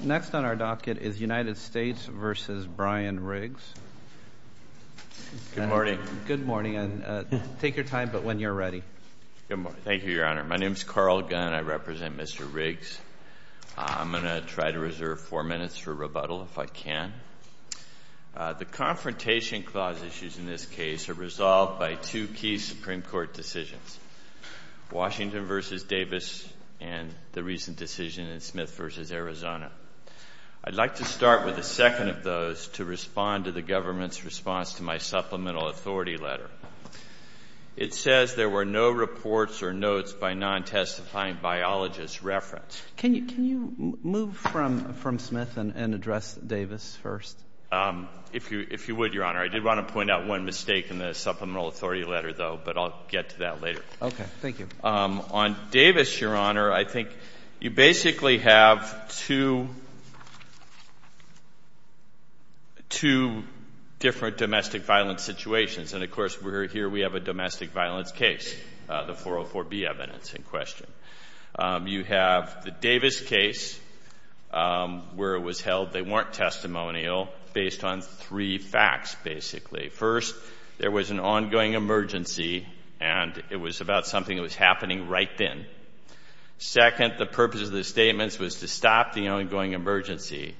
Next on our docket is United States v. Brian Riggs. Good morning. Good morning, and take your time, but when you're ready. Thank you, Your Honor. My name is Carl Gunn. I represent Mr. Riggs. I'm going to try to reserve four minutes for rebuttal, if I can. The Confrontation Clause issues in this case are resolved by two key Supreme Court decisions, Washington v. Davis and the recent decision in Smith v. Arizona. I'd like to start with a second of those to respond to the government's response to my supplemental authority letter. It says there were no reports or notes by non-testifying biologists referenced. Can you move from Smith and address Davis first? If you would, Your Honor, I did want to point out one mistake in the supplemental authority letter, though, but I'll get to that later. Okay. Thank you. On Davis, Your Honor, I think you basically have two different domestic violence situations. And, of course, here we have a domestic violence case, the 404B evidence in question. You have the Davis case where it was held they weren't testimonial based on three facts, basically. First, there was an ongoing emergency, and it was about something that was happening right then. Second, the purpose of the statements was to stop the ongoing emergency.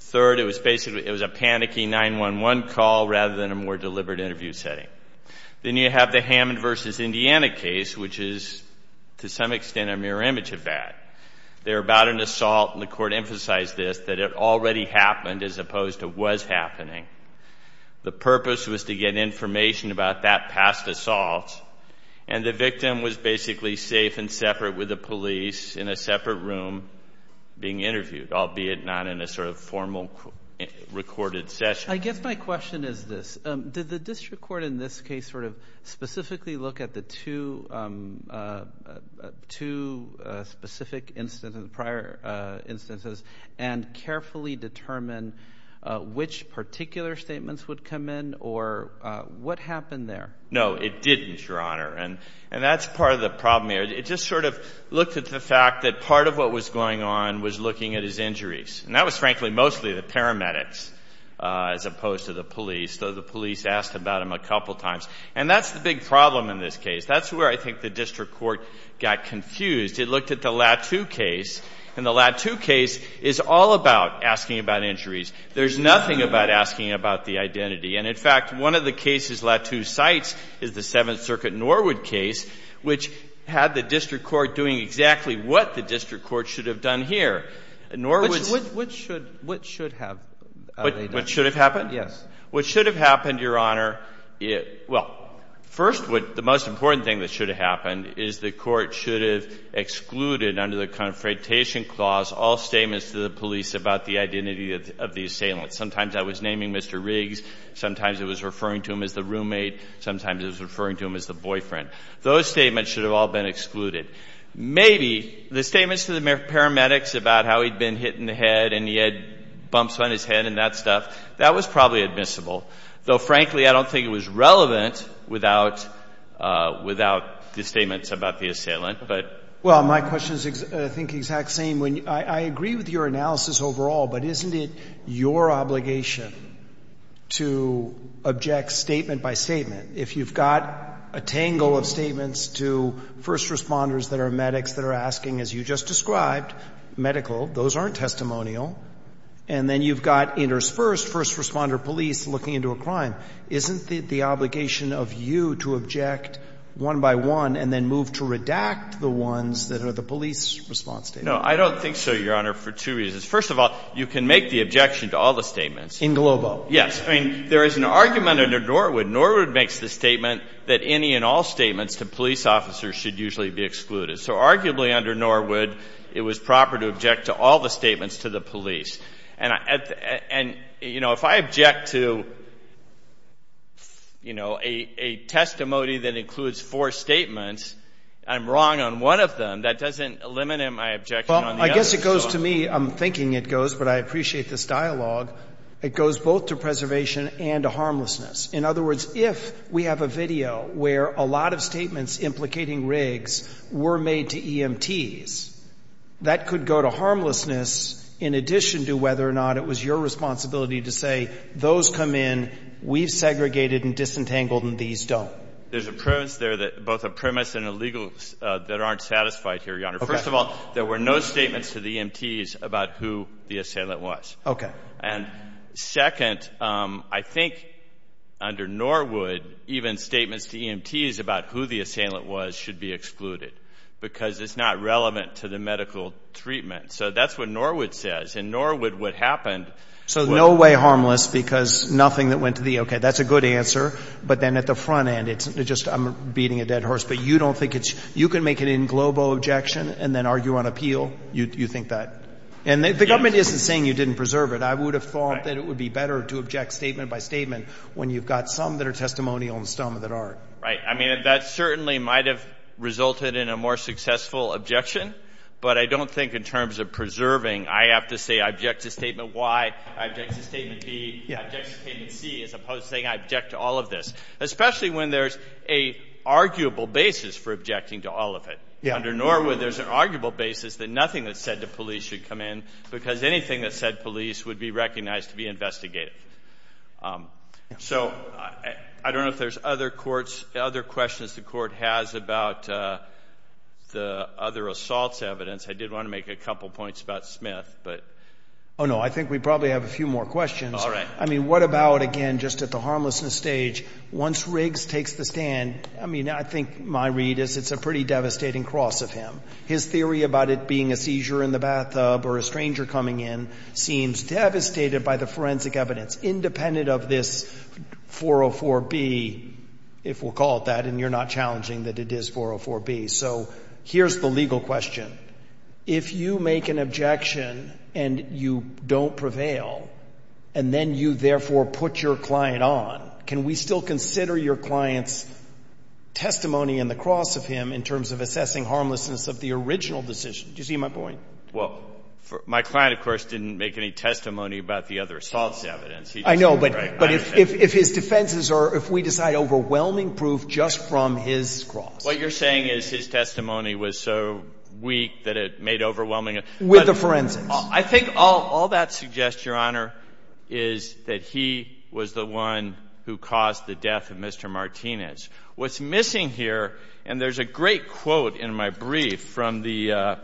Third, it was basically a panicky 911 call rather than a more deliberate interview setting. Then you have the Hammond v. Indiana case, which is, to some extent, a mirror image of that. They're about an assault, and the court emphasized this, that it already happened as opposed to was happening. The purpose was to get information about that past assault, and the victim was basically safe and separate with the police in a separate room being interviewed, albeit not in a sort of formal recorded session. I guess my question is this. Did the district court in this case sort of specifically look at the two specific instances, prior instances, and carefully determine which particular statements would come in, or what happened there? No, it didn't, Your Honor. And that's part of the problem here. It just sort of looked at the fact that part of what was going on was looking at his injuries. And that was, frankly, mostly the paramedics as opposed to the police, though the police asked about him a couple times. And that's the big problem in this case. That's where I think the district court got confused. It looked at the Lattu case, and the Lattu case is all about asking about injuries. There's nothing about asking about the identity. And, in fact, one of the cases Lattu cites is the Seventh Circuit Norwood case, which had the district court doing exactly what the district court should have done here. Norwood's What should have? What should have happened? Yes. What should have happened, Your Honor, well, first, the most important thing that should have happened is the court should have excluded under the Confrontation Clause all statements to the police about the identity of the assailant. Sometimes that was naming Mr. Riggs. Sometimes it was referring to him as the roommate. Sometimes it was referring to him as the boyfriend. Those statements should have all been excluded. Maybe the statements to the paramedics about how he'd been hit in the head and he had bumps on his head and that stuff, that was probably admissible, though, frankly, I don't think it was relevant without the statements about the assailant. Well, my question is, I think, the exact same. I agree with your analysis overall, but isn't it your obligation to object statement by statement? If you've got a tangle of statements to first responders that are medics that are asking, as you just described, medical, those aren't testimonial, and then you've got interspersed first responder police looking into a crime, isn't it the obligation of you to object one by one and then move to redact the ones that are the police response statements? No, I don't think so, Your Honor, for two reasons. First of all, you can make the objection to all the statements. In Globo. Yes. I mean, there is an argument under Norwood. Norwood makes the statement that any and all statements to police officers should usually be excluded. So arguably under Norwood, it was proper to object to all the statements to the police. And, you know, if I object to, you know, a testimony that includes four statements, I'm wrong on one of them. That doesn't eliminate my objection on the other. Well, I guess it goes to me. I'm thinking it goes, but I appreciate this dialogue. It goes both to preservation and to harmlessness. In other words, if we have a video where a lot of statements implicating Riggs were made to EMTs, that could go to harmlessness in addition to whether or not it was your responsibility to say those come in, we've segregated and disentangled, and these don't. There's a premise there that both a premise and a legal that aren't satisfied here, Your Honor. First of all, there were no statements to the EMTs about who the assailant was. Okay. And, second, I think under Norwood, even statements to EMTs about who the assailant was should be excluded because it's not relevant to the medical treatment. So that's what Norwood says. In Norwood, what happened was— So no way harmless because nothing that went to the—okay, that's a good answer. But then at the front end, it's just I'm beating a dead horse. But you don't think it's—you can make an inglobal objection and then argue on appeal. You think that. And the government isn't saying you didn't preserve it. I would have thought that it would be better to object statement by statement when you've got some that are testimonial and some that aren't. I mean, that certainly might have resulted in a more successful objection. But I don't think in terms of preserving, I have to say I object to Statement Y, I object to Statement B, I object to Statement C as opposed to saying I object to all of this, especially when there's an arguable basis for objecting to all of it. Under Norwood, there's an arguable basis that nothing that's said to police should come in because anything that's said to police would be recognized to be investigative. So I don't know if there's other questions the Court has about the other assaults evidence. I did want to make a couple points about Smith. Oh, no, I think we probably have a few more questions. All right. I mean, what about, again, just at the harmlessness stage, once Riggs takes the stand, I mean, I think my read is it's a pretty devastating cross of him. His theory about it being a seizure in the bathtub or a stranger coming in seems devastated by the forensic evidence, independent of this 404B, if we'll call it that, and you're not challenging that it is 404B. So here's the legal question. If you make an objection and you don't prevail, and then you therefore put your client on, can we still consider your client's testimony in the cross of him in terms of assessing harmlessness of the original decision? Do you see my point? Well, my client, of course, didn't make any testimony about the other assaults evidence. I know, but if his defenses are, if we decide overwhelming proof just from his cross. What you're saying is his testimony was so weak that it made overwhelming evidence. With the forensics. I think all that suggests, Your Honor, is that he was the one who caused the death of Mr. Martinez. What's missing here, and there's a great quote in my brief from the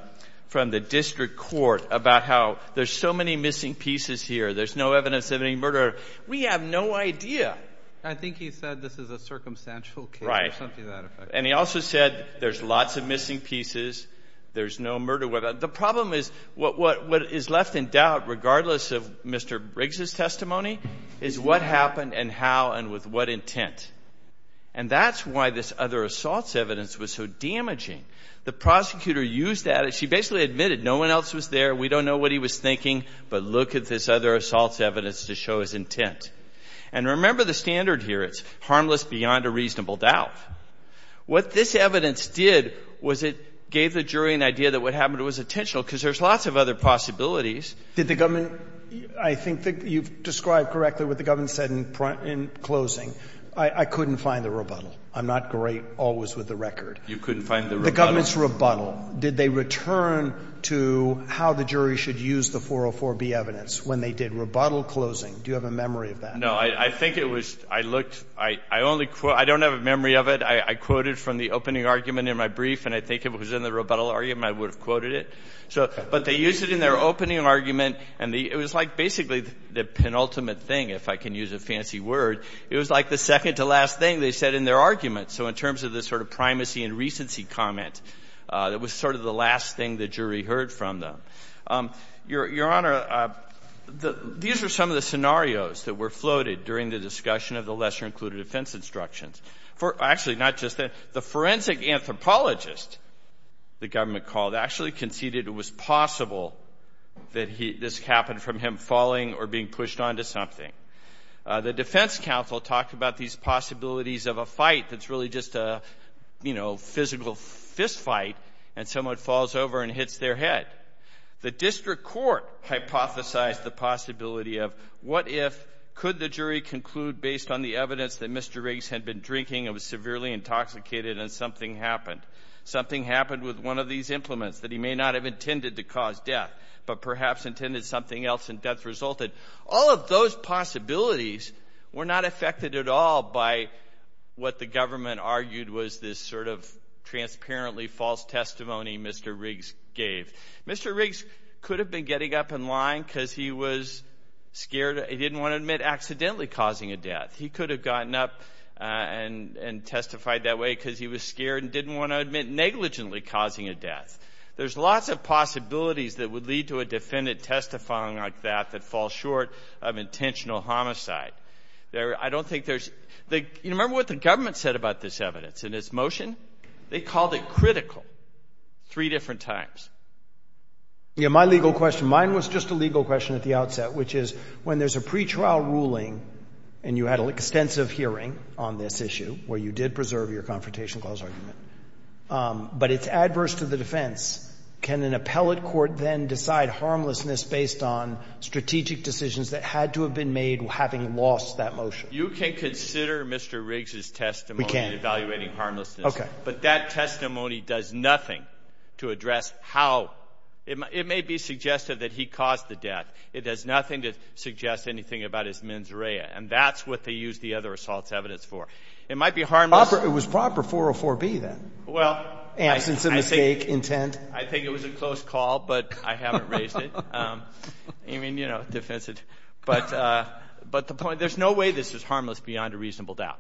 district court about how there's so many missing pieces here, there's no evidence of any murder. We have no idea. I think he said this is a circumstantial case or something to that effect. And he also said there's lots of missing pieces, there's no murder. The problem is what is left in doubt, regardless of Mr. Briggs' testimony, is what happened and how and with what intent. And that's why this other assaults evidence was so damaging. The prosecutor used that. She basically admitted no one else was there, we don't know what he was thinking, but look at this other assaults evidence to show his intent. And remember the standard here. It's harmless beyond a reasonable doubt. What this evidence did was it gave the jury an idea that what happened was intentional because there's lots of other possibilities. Did the government, I think you've described correctly what the government said in closing. I couldn't find the rebuttal. I'm not great always with the record. You couldn't find the rebuttal? The government's rebuttal. Did they return to how the jury should use the 404B evidence when they did rebuttal closing? Do you have a memory of that? No. I think it was, I looked, I only, I don't have a memory of it. I quoted from the opening argument in my brief, and I think if it was in the rebuttal argument, I would have quoted it. But they used it in their opening argument, and it was like basically the penultimate thing, if I can use a fancy word. It was like the second to last thing they said in their argument. So in terms of the sort of primacy and recency comment, it was sort of the last thing the jury heard from them. Your Honor, these are some of the scenarios that were floated during the discussion of the lesser included offense instructions. Actually, not just that. The forensic anthropologist, the government called, actually conceded it was possible that this happened from him falling or being pushed onto something. The defense counsel talked about these possibilities of a fight that's really just a, you know, physical fist fight, and someone falls over and hits their head. The district court hypothesized the possibility of what if, could the jury conclude based on the evidence that Mr. Riggs had been drinking and was severely intoxicated and something happened. Something happened with one of these implements that he may not have intended to cause death, but perhaps intended something else and death resulted. All of those possibilities were not affected at all by what the government argued was this sort of transparently false testimony Mr. Riggs gave. Mr. Riggs could have been getting up and lying because he was scared. He didn't want to admit accidentally causing a death. He could have gotten up and testified that way because he was scared and didn't want to admit negligently causing a death. There's lots of possibilities that would lead to a defendant testifying like that that fall short of intentional homicide. I don't think there's, you remember what the government said about this evidence and its motion? They called it critical three different times. Yeah, my legal question, mine was just a legal question at the outset, which is when there's a pretrial ruling and you had an extensive hearing on this issue where you did preserve your Confrontation Clause argument, but it's adverse to the defense, can an appellate court then decide harmlessness based on strategic decisions that had to have been made having lost that motion? You can consider Mr. Riggs' testimony in evaluating harmlessness, but that testimony does nothing to address how. It may be suggestive that he caused the death. It does nothing to suggest anything about his mens rea, and that's what they used the other assaults evidence for. It might be harmless. It was proper 404B then, absence of mistake, intent. I think it was a close call, but I haven't raised it. I mean, you know, defensive. But the point, there's no way this is harmless beyond a reasonable doubt,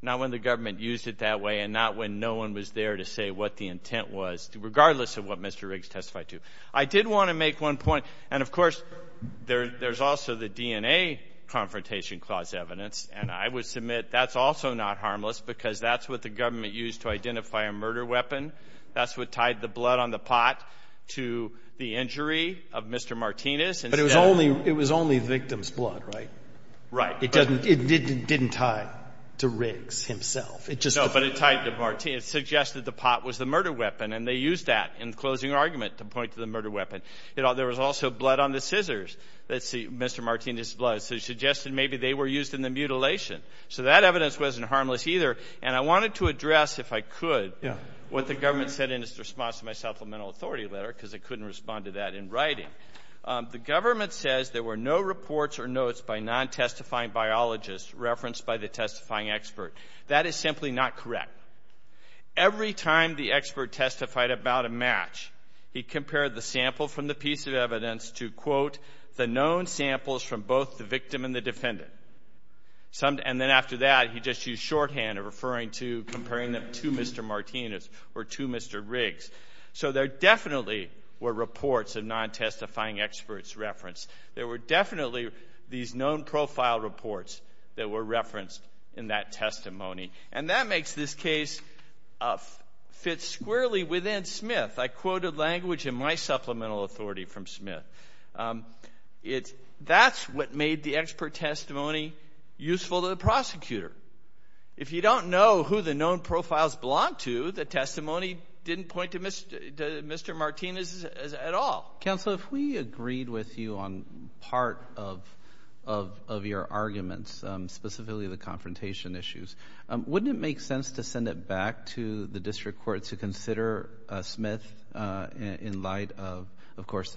not when the government used it that way and not when no one was there to say what the intent was, regardless of what Mr. Riggs testified to. I did want to make one point, and, of course, there's also the DNA Confrontation Clause evidence, and I would submit that's also not harmless because that's what the government used to identify a murder weapon. That's what tied the blood on the pot to the injury of Mr. Martinez. But it was only the victim's blood, right? Right. It didn't tie to Riggs himself. No, but it suggested the pot was the murder weapon, and they used that in the closing argument to point to the murder weapon. There was also blood on the scissors. That's Mr. Martinez' blood. So he suggested maybe they were used in the mutilation. So that evidence wasn't harmless either, and I wanted to address, if I could, what the government said in its response to my supplemental authority letter because I couldn't respond to that in writing. The government says there were no reports or notes by non-testifying biologists referenced by the testifying expert. That is simply not correct. Every time the expert testified about a match, he compared the sample from the piece of evidence to, quote, the known samples from both the victim and the defendant. And then after that, he just used shorthand referring to comparing them to Mr. Martinez or to Mr. Riggs. So there definitely were reports of non-testifying experts referenced. There were definitely these known profile reports that were referenced in that testimony. And that makes this case fit squarely within Smith. I quoted language in my supplemental authority from Smith. That's what made the expert testimony useful to the prosecutor. If you don't know who the known profiles belong to, the testimony didn't point to Mr. Martinez at all. Counsel, if we agreed with you on part of your arguments, specifically the confrontation issues, wouldn't it make sense to send it back to the district court to consider Smith in light of, of course,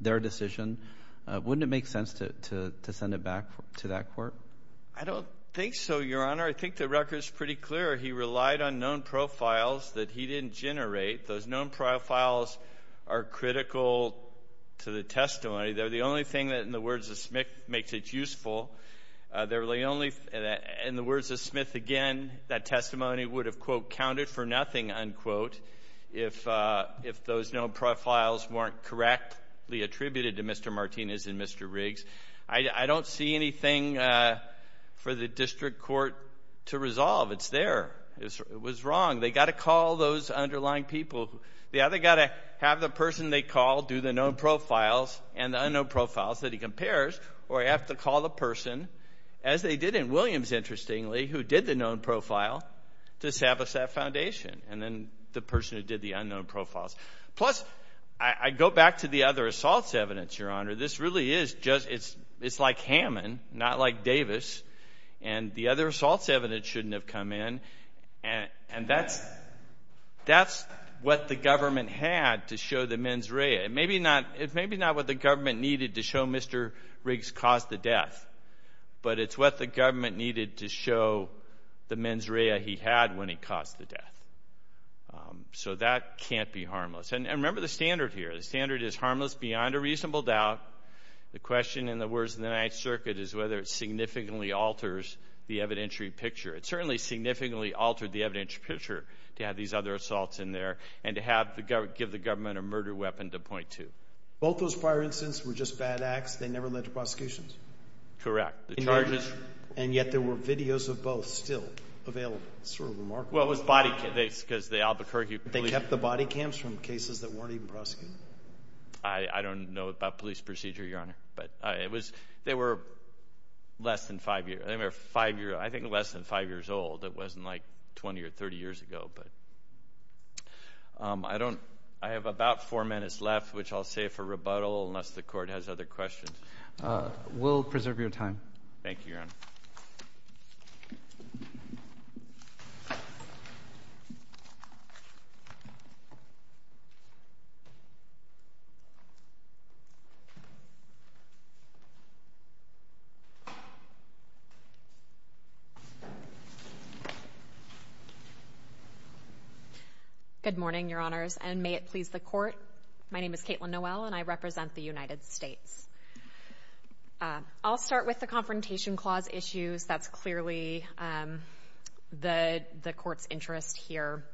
their decision? Wouldn't it make sense to send it back to that court? I don't think so, Your Honor. I think the record is pretty clear. He relied on known profiles that he didn't generate. Those known profiles are critical to the testimony. They're the only thing that, in the words of Smith, makes it useful. They're the only, in the words of Smith again, that testimony would have, quote, counted for nothing, unquote, if those known profiles weren't correctly attributed to Mr. Martinez and Mr. Riggs. I don't see anything for the district court to resolve. It's there. It was wrong. They've got to call those underlying people. They've either got to have the person they call do the known profiles and the unknown profiles that he compares or they have to call the person, as they did in Williams, interestingly, who did the known profile to Sabosat Foundation and then the person who did the unknown profiles. Plus, I go back to the other assaults evidence, Your Honor. This really is just, it's like Hammond, not like Davis, and the other assaults evidence shouldn't have come in, and that's what the government had to show the mens rea. It's maybe not what the government needed to show Mr. Riggs caused the death, but it's what the government needed to show the mens rea he had when he caused the death. So that can't be harmless. And remember the standard here. The standard is harmless beyond a reasonable doubt. The question, in the words of the Ninth Circuit, is whether it significantly alters the evidentiary picture. It certainly significantly altered the evidentiary picture to have these other assaults in there and to give the government a murder weapon to point to. Both those prior incidents were just bad acts. They never led to prosecutions. Correct. And yet there were videos of both still available. It's sort of remarkable. Well, it was body cams because the Albuquerque police… They kept the body cams from cases that weren't even prosecuted? I don't know about police procedure, Your Honor, but they were less than five years old. It wasn't like 20 or 30 years ago. I have about four minutes left, which I'll save for rebuttal, unless the Court has other questions. We'll preserve your time. Thank you, Your Honor. Good morning, Your Honors, and may it please the Court. My name is Kaitlin Noel, and I represent the United States. I'll start with the Confrontation Clause issues. That's clearly the Court's interest here.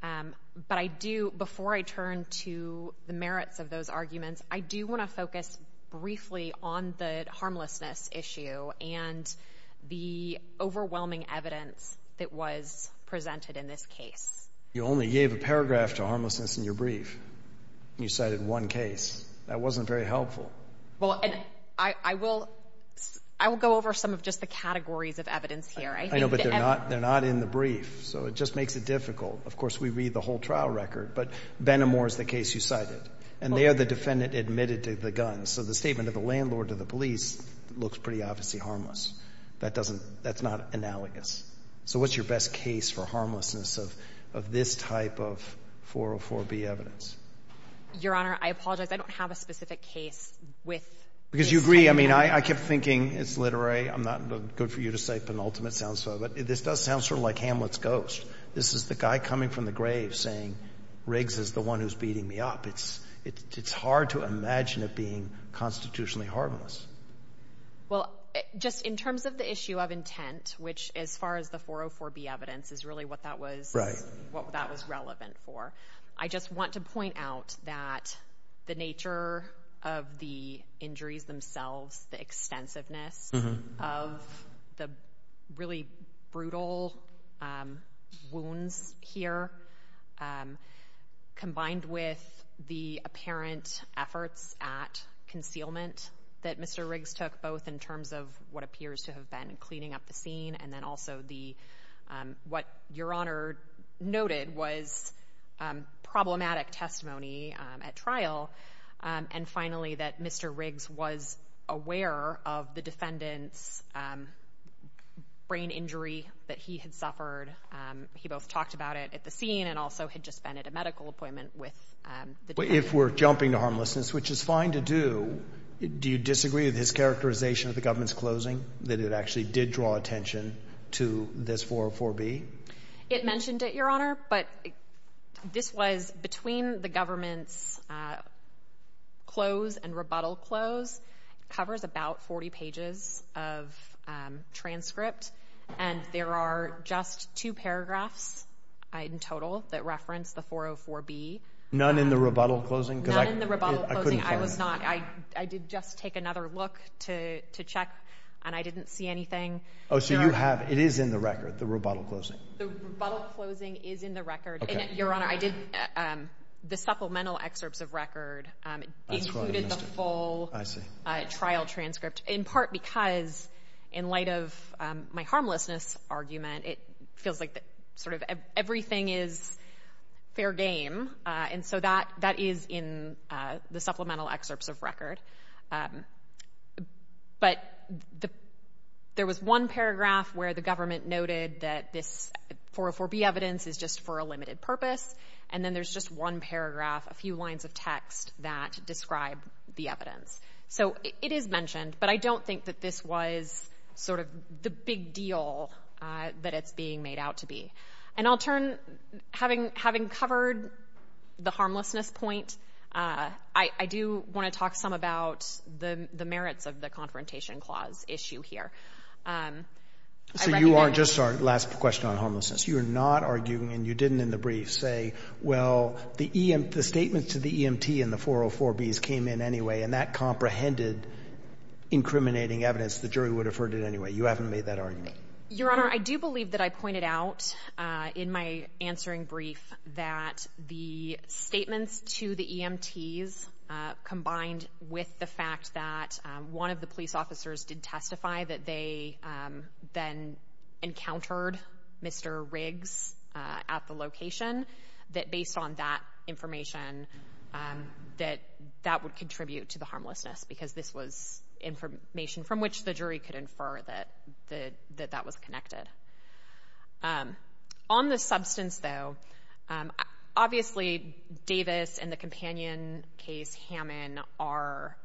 But before I turn to the merits of those arguments, I do want to focus briefly on the harmlessness issue and the overwhelming evidence that was presented in this case. You only gave a paragraph to harmlessness in your brief. You cited one case. That wasn't very helpful. I will go over some of just the categories of evidence here. I know, but they're not in the brief, so it just makes it difficult. Of course, we read the whole trial record, but Benamor is the case you cited, and there the defendant admitted to the gun. So the statement of the landlord to the police looks pretty obviously harmless. That's not analogous. So what's your best case for harmlessness of this type of 404B evidence? Your Honor, I apologize. I don't have a specific case with this type of evidence. Because you agree. I mean, I kept thinking it's literary. I'm not good for you to say penultimate sounds so, but this does sound sort of like Hamlet's ghost. This is the guy coming from the grave saying Riggs is the one who's beating me up. It's hard to imagine it being constitutionally harmless. Well, just in terms of the issue of intent, which as far as the 404B evidence is really what that was relevant for, I just want to point out that the nature of the injuries themselves, the extensiveness of the really brutal wounds here, combined with the apparent efforts at concealment that Mr. Riggs took, both in terms of what appears to have been cleaning up the scene and then also what Your Honor noted was problematic testimony at trial, and finally that Mr. Riggs was aware of the defendant's brain injury that he had suffered. He both talked about it at the scene and also had just been at a medical appointment with the defendant. But if we're jumping to harmlessness, which is fine to do, do you disagree with his characterization of the government's closing, that it actually did draw attention to this 404B? It mentioned it, Your Honor, but this was between the government's close and rebuttal close. It covers about 40 pages of transcript, and there are just two paragraphs in total that reference the 404B. None in the rebuttal closing? None in the rebuttal closing. I was not—I did just take another look to check, and I didn't see anything. Oh, so you have—it is in the record, the rebuttal closing? The rebuttal closing is in the record. Okay. And, Your Honor, I did—the supplemental excerpts of record included the full trial transcript, in part because in light of my harmlessness argument, it feels like sort of everything is fair game, and so that is in the supplemental excerpts of record. But there was one paragraph where the government noted that this 404B evidence is just for a limited purpose, and then there's just one paragraph, a few lines of text that describe the evidence. So it is mentioned, but I don't think that this was sort of the big deal that it's being made out to be. And I'll turn—having covered the harmlessness point, I do want to talk some about the merits of the Confrontation Clause issue here. I recognize— So you are just—last question on homelessness. You are not arguing, and you didn't in the brief say, well, the statement to the EMT in the 404Bs came in anyway, and that comprehended incriminating evidence. The jury would have heard it anyway. You haven't made that argument. Your Honor, I do believe that I pointed out in my answering brief that the statements to the EMTs combined with the fact that one of the police officers did testify that they then encountered Mr. Riggs at the location, that based on that information that that would contribute to the harmlessness because this was information from which the jury could infer that that was connected. On the substance, though, obviously Davis and the companion case, Hammond, are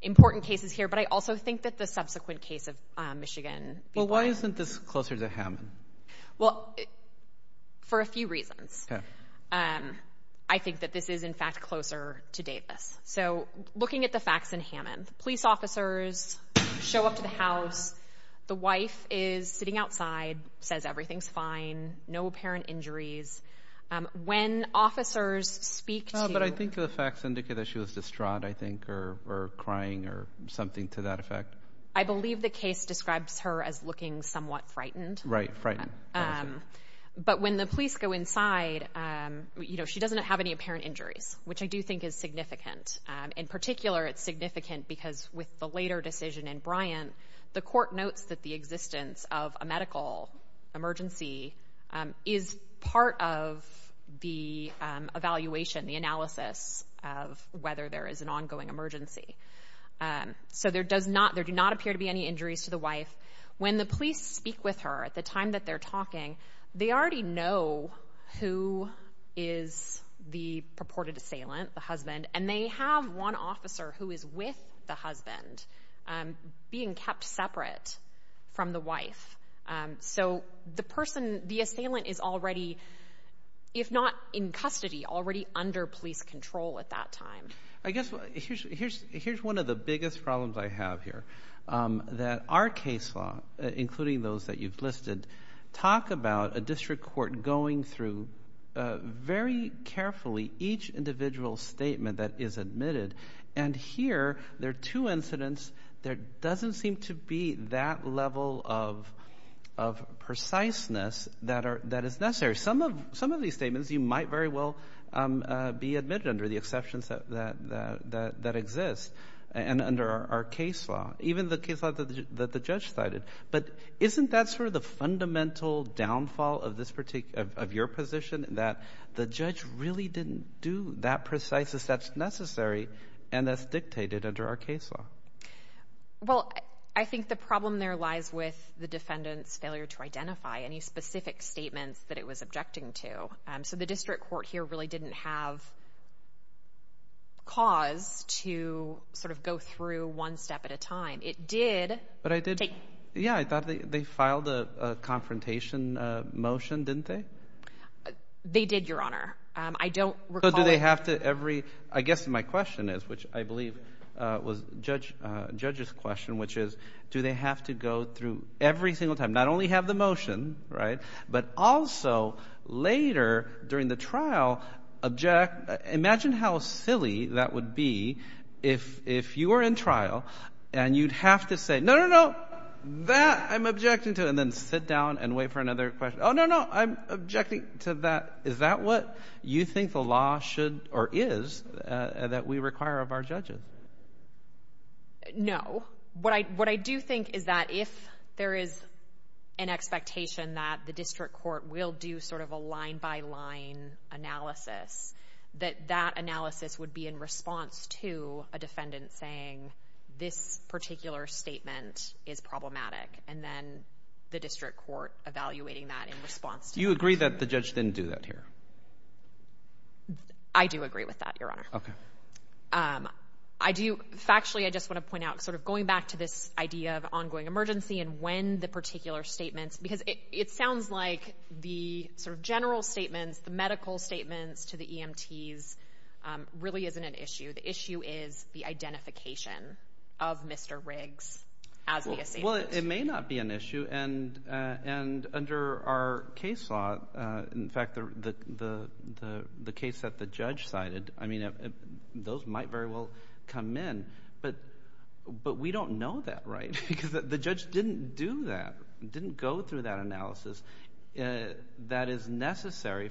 important cases here, but I also think that the subsequent case of Michigan— Well, why isn't this closer to Hammond? Well, for a few reasons. Okay. I think that this is, in fact, closer to Davis. So looking at the facts in Hammond, police officers show up to the house. The wife is sitting outside, says everything's fine, no apparent injuries. When officers speak to— But I think the facts indicate that she was distraught, I think, or crying or something to that effect. I believe the case describes her as looking somewhat frightened. Right, frightened. But when the police go inside, she doesn't have any apparent injuries, which I do think is significant. In particular, it's significant because with the later decision in Bryant, the court notes that the existence of a medical emergency is part of the evaluation, the analysis of whether there is an ongoing emergency. So there do not appear to be any injuries to the wife. When the police speak with her at the time that they're talking, they already know who is the purported assailant, the husband, and they have one officer who is with the husband being kept separate from the wife. So the person, the assailant, is already, if not in custody, already under police control at that time. I guess here's one of the biggest problems I have here, that our case law, including those that you've listed, talk about a district court going through very carefully each individual statement that is admitted, and here there are two incidents, there doesn't seem to be that level of preciseness that is necessary. Some of these statements you might very well be admitted under the exceptions that exist, and under our case law, even the case law that the judge cited. But isn't that sort of the fundamental downfall of your position, that the judge really didn't do that precise as that's necessary, and that's dictated under our case law? Well, I think the problem there lies with the defendant's failure to identify any specific statements that it was objecting to. So the district court here really didn't have cause to sort of go through one step at a time. Yeah, I thought they filed a confrontation motion, didn't they? They did, Your Honor. I don't recall it. I guess my question is, which I believe was the judge's question, which is do they have to go through every single time, not only have the motion, but also later during the trial, imagine how silly that would be if you were in trial and you'd have to say, no, no, no, that I'm objecting to, and then sit down and wait for another question. Oh, no, no, I'm objecting to that. Is that what you think the law should or is that we require of our judges? No. What I do think is that if there is an expectation that the district court will do sort of a line-by-line analysis, that that analysis would be in response to a defendant saying this particular statement is problematic and then the district court evaluating that in response to that. Do you agree that the judge didn't do that here? I do agree with that, Your Honor. Okay. Factually, I just want to point out sort of going back to this idea of ongoing emergency and when the particular statements, because it sounds like the sort of general statements, the medical statements to the EMTs really isn't an issue. The issue is the identification of Mr. Riggs as the assailant. Well, it may not be an issue, and under our case law, in fact, the case that the judge cited, I mean those might very well come in, but we don't know that, right, because the judge didn't do that, didn't go through that analysis that is necessary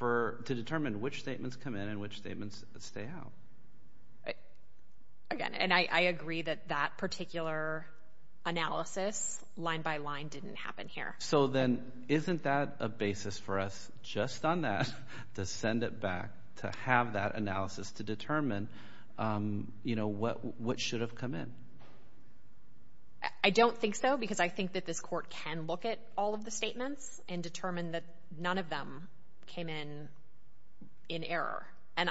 to determine which statements come in and which statements stay out. Again, and I agree that that particular analysis line-by-line didn't happen here. So then isn't that a basis for us just on that to send it back to have that analysis to determine, you know, what should have come in? I don't think so because I think that this court can look at all of the statements and determine that none of them came in in error. And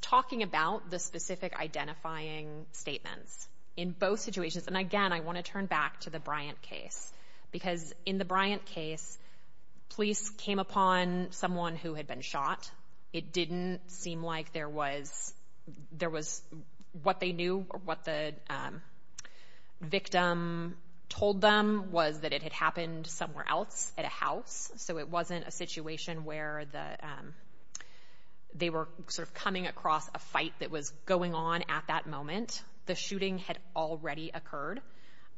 talking about the specific identifying statements in both situations, and again, I want to turn back to the Bryant case because in the Bryant case, police came upon someone who had been shot. It didn't seem like there was what they knew or what the victim told them was that it had happened somewhere else at a house. So it wasn't a situation where they were sort of coming across a fight that was going on at that moment. The shooting had already occurred.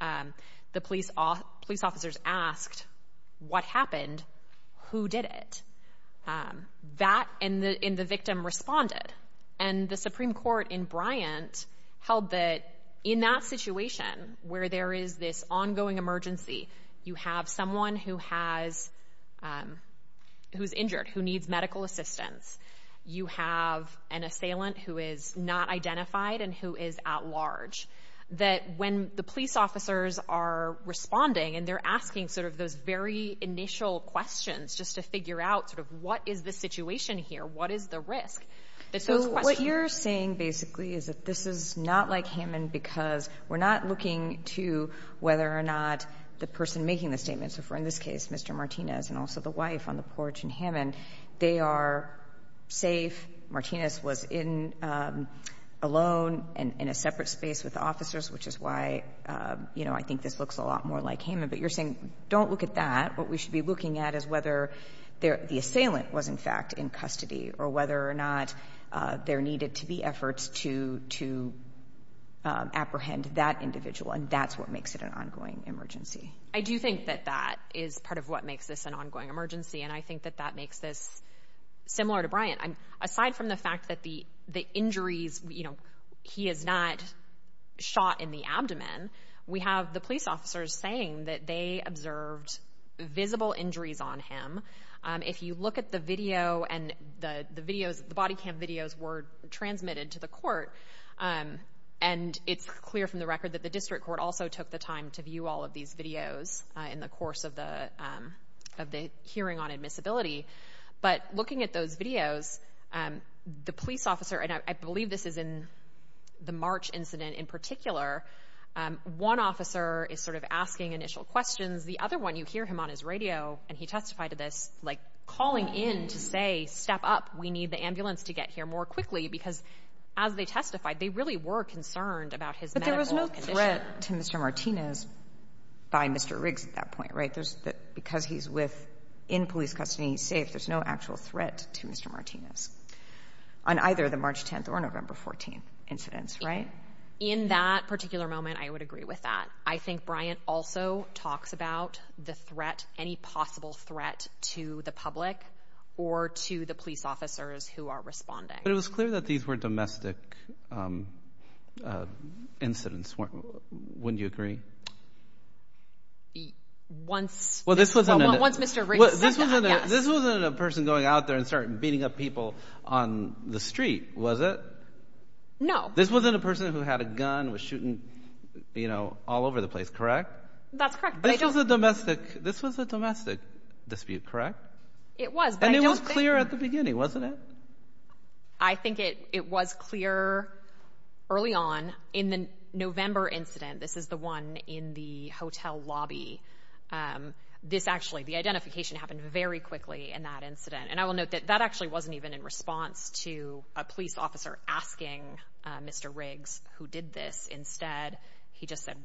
The police officers asked, what happened? Who did it? That and the victim responded. And the Supreme Court in Bryant held that in that situation where there is this ongoing emergency, you have someone who's injured, who needs medical assistance. You have an assailant who is not identified and who is at large, that when the police officers are responding and they're asking sort of those very initial questions just to figure out sort of what is the situation here, what is the risk. So what you're saying basically is that this is not like Hammond because we're not looking to whether or not the person making the statement, so for in this case Mr. Martinez and also the wife on the porch in Hammond, they are safe. Martinez was alone and in a separate space with the officers, which is why I think this looks a lot more like Hammond. But you're saying don't look at that. What we should be looking at is whether the assailant was in fact in custody or whether or not there needed to be efforts to apprehend that individual, and that's what makes it an ongoing emergency. I do think that that is part of what makes this an ongoing emergency, and I think that that makes this similar to Bryant. Aside from the fact that the injuries, you know, he is not shot in the abdomen, we have the police officers saying that they observed visible injuries on him. If you look at the video and the videos, the body cam videos were transmitted to the court, and it's clear from the record that the district court also took the time to view all of these videos in the course of the hearing on admissibility. But looking at those videos, the police officer, and I believe this is in the March incident in particular, one officer is sort of asking initial questions. The other one, you hear him on his radio, and he testified to this, like calling in to say, step up, we need the ambulance to get here more quickly, because as they testified, they really were concerned about his medical condition. But there was no threat to Mr. Martinez by Mr. Riggs at that point, right? Because he's in police custody and he's safe, there's no actual threat to Mr. Martinez on either the March 10th or November 14th incidents, right? In that particular moment, I would agree with that. I think Bryant also talks about the threat, any possible threat to the public or to the police officers who are responding. But it was clear that these were domestic incidents, wouldn't you agree? Once Mr. Riggs said that, yes. This wasn't a person going out there and starting beating up people on the street, was it? No. This wasn't a person who had a gun, was shooting all over the place, correct? That's correct. This was a domestic dispute, correct? It was. And it was clear at the beginning, wasn't it? I think it was clear early on in the November incident. This is the one in the hotel lobby. This actually, the identification happened very quickly in that incident. And I will note that that actually wasn't even in response to a police officer asking Mr. Riggs who did this instead. He just said,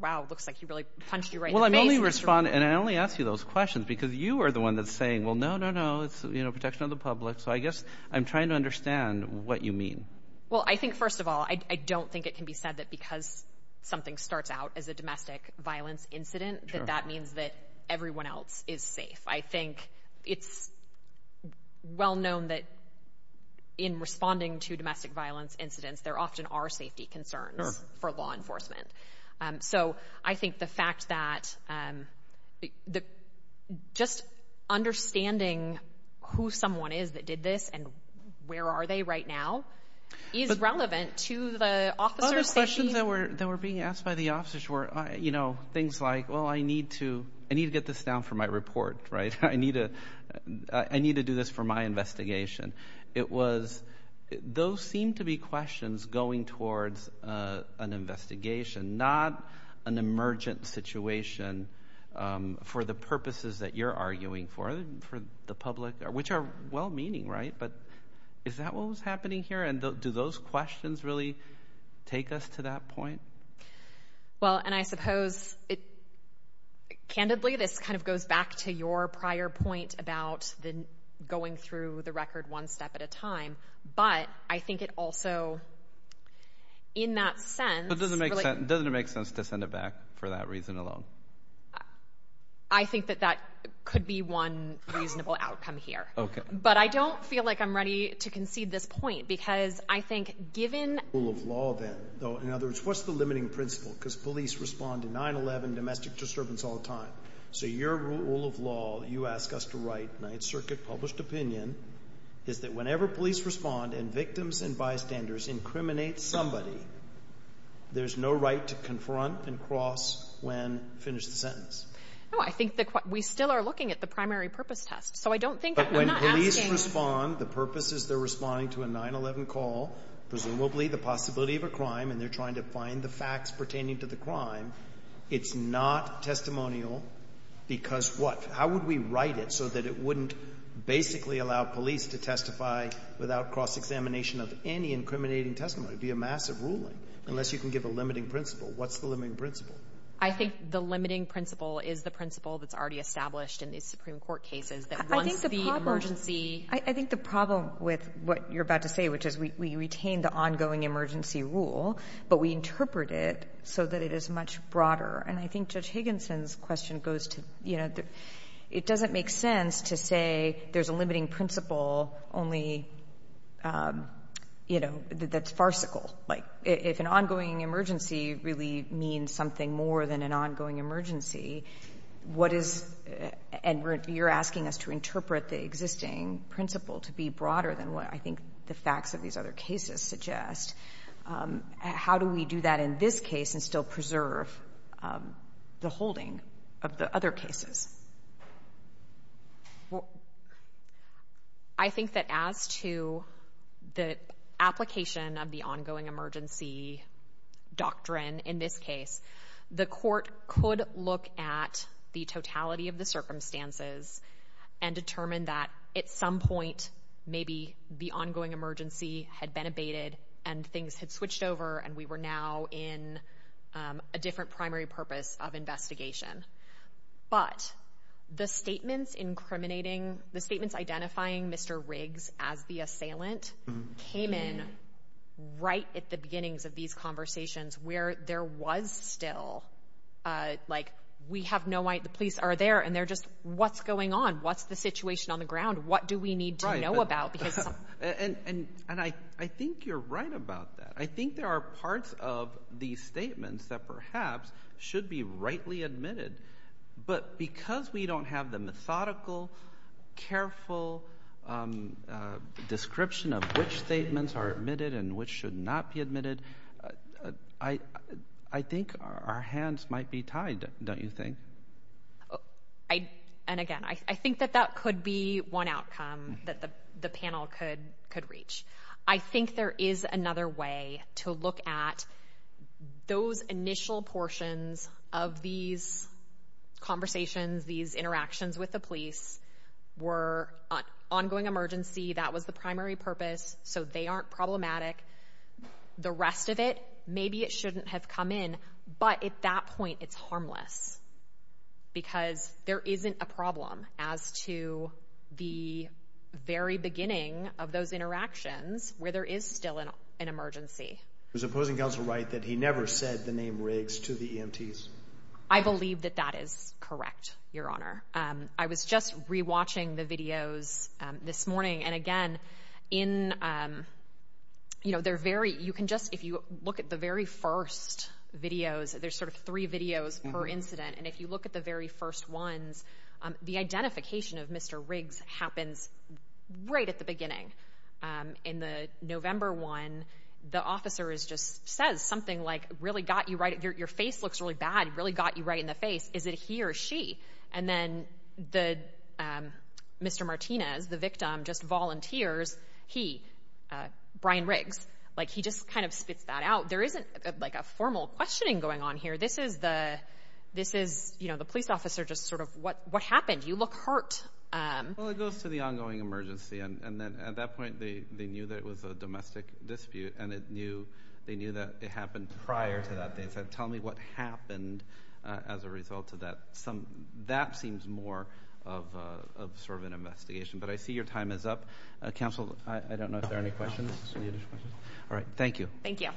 wow, looks like he really punched you right in the face. Well, I'm only responding, and I only ask you those questions because you are the one that's saying, well, no, no, no, it's protection of the public. So I guess I'm trying to understand what you mean. Well, I think first of all, I don't think it can be said that because something starts out as a domestic violence incident that that means that everyone else is safe. I think it's well-known that in responding to domestic violence incidents, there often are safety concerns for law enforcement. So I think the fact that just understanding who someone is that did this and where are they right now is relevant to the officer's safety. Other questions that were being asked by the officers were things like, well, I need to get this down for my report, right? I need to do this for my investigation. It was those seemed to be questions going towards an investigation, not an emergent situation for the purposes that you're arguing for, for the public, which are well-meaning, right? But is that what was happening here? And do those questions really take us to that point? Well, and I suppose, candidly, this kind of goes back to your prior point about going through the record one step at a time. But I think it also, in that sense – But doesn't it make sense to send it back for that reason alone? I think that that could be one reasonable outcome here. Okay. But I don't feel like I'm ready to concede this point because I think given – In other words, what's the limiting principle? Because police respond to 9-11, domestic disturbance all the time. So your rule of law that you ask us to write, Ninth Circuit published opinion, is that whenever police respond and victims and bystanders incriminate somebody, there's no right to confront and cross when finished the sentence. No, I think we still are looking at the primary purpose test. So I don't think – But when police respond, the purpose is they're responding to a 9-11 call. Presumably the possibility of a crime, and they're trying to find the facts pertaining to the crime. It's not testimonial because what? How would we write it so that it wouldn't basically allow police to testify without cross-examination of any incriminating testimony? It would be a massive ruling unless you can give a limiting principle. What's the limiting principle? I think the limiting principle is the principle that's already established in these Supreme Court cases that once the emergency – we retain the ongoing emergency rule, but we interpret it so that it is much broader. And I think Judge Higginson's question goes to – it doesn't make sense to say there's a limiting principle only – that's farcical. If an ongoing emergency really means something more than an ongoing emergency, what is – and you're asking us to interpret the existing principle to be broader than what I think the facts of these other cases suggest. How do we do that in this case and still preserve the holding of the other cases? I think that as to the application of the ongoing emergency doctrine in this case, the court could look at the totality of the circumstances and determine that at some point maybe the ongoing emergency had been abated and things had switched over and we were now in a different primary purpose of investigation. But the statements incriminating – the statements identifying Mr. Riggs as the assailant came in right at the beginnings of these conversations where there was still – we have no – the police are there and they're just, what's going on? What's the situation on the ground? What do we need to know about? And I think you're right about that. I think there are parts of these statements that perhaps should be rightly admitted, but because we don't have the methodical, careful description of which statements are admitted and which should not be admitted, I think our hands might be tied, don't you think? And again, I think that that could be one outcome that the panel could reach. I think there is another way to look at those initial portions of these conversations, these interactions with the police were ongoing emergency. That was the primary purpose, so they aren't problematic. The rest of it, maybe it shouldn't have come in, but at that point it's harmless because there isn't a problem as to the very beginning of those interactions where there is still an emergency. Was the opposing counsel right that he never said the name Riggs to the EMTs? I believe that that is correct, Your Honor. I was just re-watching the videos this morning, and again, if you look at the very first videos, there's sort of three videos per incident, and if you look at the very first ones, the identification of Mr. Riggs happens right at the beginning. In the November one, the officer just says something like, your face looks really bad, it really got you right in the face. Is it he or she? And then Mr. Martinez, the victim, just volunteers he, Brian Riggs. He just kind of spits that out. There isn't a formal questioning going on here. This is the police officer just sort of, what happened? You look hurt. Well, it goes to the ongoing emergency, and then at that point they knew that it was a domestic dispute, and they knew that it happened prior to that. They said, tell me what happened as a result of that. That seems more of sort of an investigation, but I see your time is up. Counsel, I don't know if there are any questions. All right, thank you. Thank you.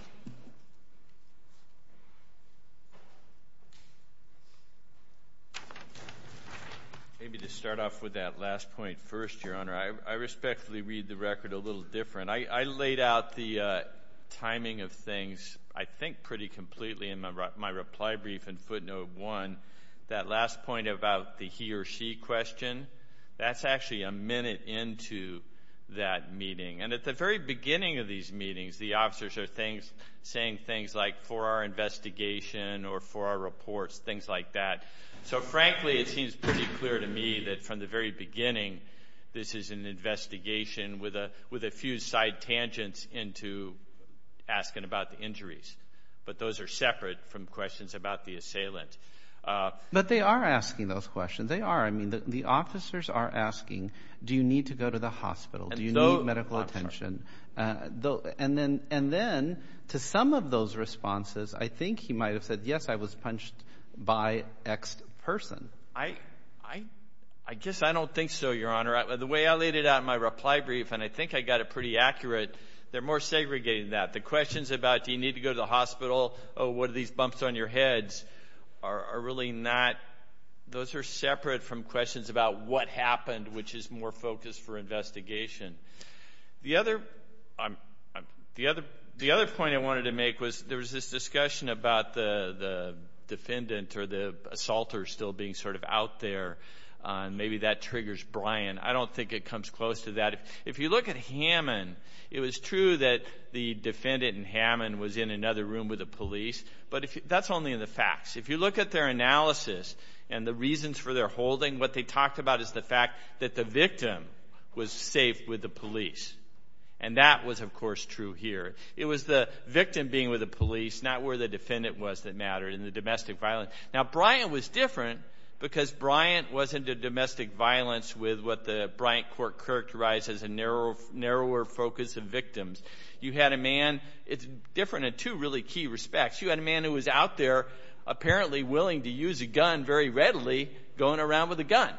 Maybe to start off with that last point first, Your Honor, I respectfully read the record a little different. I laid out the timing of things, I think, pretty completely in my reply brief in footnote one. That last point about the he or she question, that's actually a minute into that meeting. And at the very beginning of these meetings, the officers are saying things like, for our investigation or for our reports, things like that. So, frankly, it seems pretty clear to me that from the very beginning, this is an investigation with a few side tangents into asking about the injuries. But those are separate from questions about the assailant. But they are asking those questions. They are. I mean, the officers are asking, do you need to go to the hospital? Do you need medical attention? And then to some of those responses, I think he might have said, yes, I was punched by X person. I guess I don't think so, Your Honor. The way I laid it out in my reply brief, and I think I got it pretty accurate, they're more segregated than that. The questions about, do you need to go to the hospital? Oh, what are these bumps on your heads? Are really not. Those are separate from questions about what happened, which is more focused for investigation. The other point I wanted to make was there was this discussion about the defendant or the assaulter still being sort of out there, and maybe that triggers Brian. I don't think it comes close to that. If you look at Hammond, it was true that the defendant in Hammond was in another room with the police, but that's only in the facts. If you look at their analysis and the reasons for their holding, what they talked about is the fact that the victim was safe with the police, and that was, of course, true here. It was the victim being with the police, not where the defendant was that mattered, and the domestic violence. Now, Brian was different because Brian wasn't a domestic violence with what the Bryant court characterized as a narrower focus of victims. You had a man, it's different in two really key respects. You had a man who was out there apparently willing to use a gun very readily going around with a gun.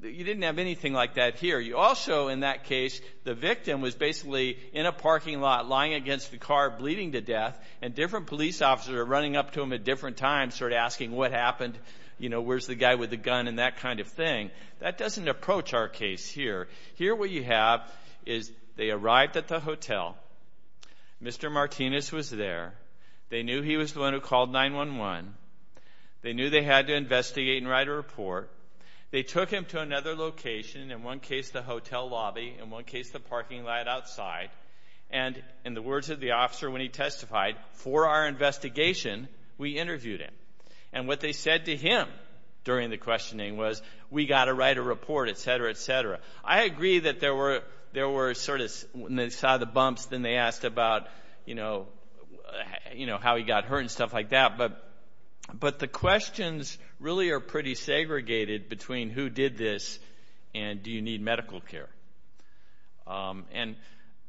You didn't have anything like that here. You also, in that case, the victim was basically in a parking lot lying against the car bleeding to death, and different police officers were running up to him at different times sort of asking what happened, you know, where's the guy with the gun and that kind of thing. That doesn't approach our case here. Here what you have is they arrived at the hotel. Mr. Martinez was there. They knew he was the one who called 911. They knew they had to investigate and write a report. They took him to another location, in one case the hotel lobby, in one case the parking lot outside, and in the words of the officer when he testified, for our investigation, we interviewed him. And what they said to him during the questioning was, we've got to write a report, et cetera, et cetera. I agree that there were sort of, when they saw the bumps, then they asked about, you know, how he got hurt and stuff like that. But the questions really are pretty segregated between who did this and do you need medical care. And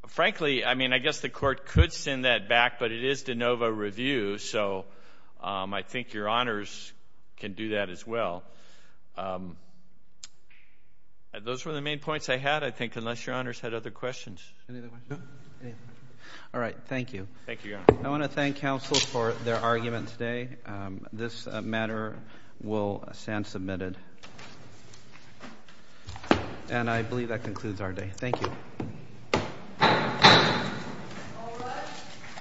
frankly, I mean, I guess the court could send that back, but it is de novo review, so I think your honors can do that as well. Those were the main points I had, I think, unless your honors had other questions. All right. Thank you. I want to thank counsel for their argument today. This matter will stand submitted. And I believe that concludes our day. Thank you.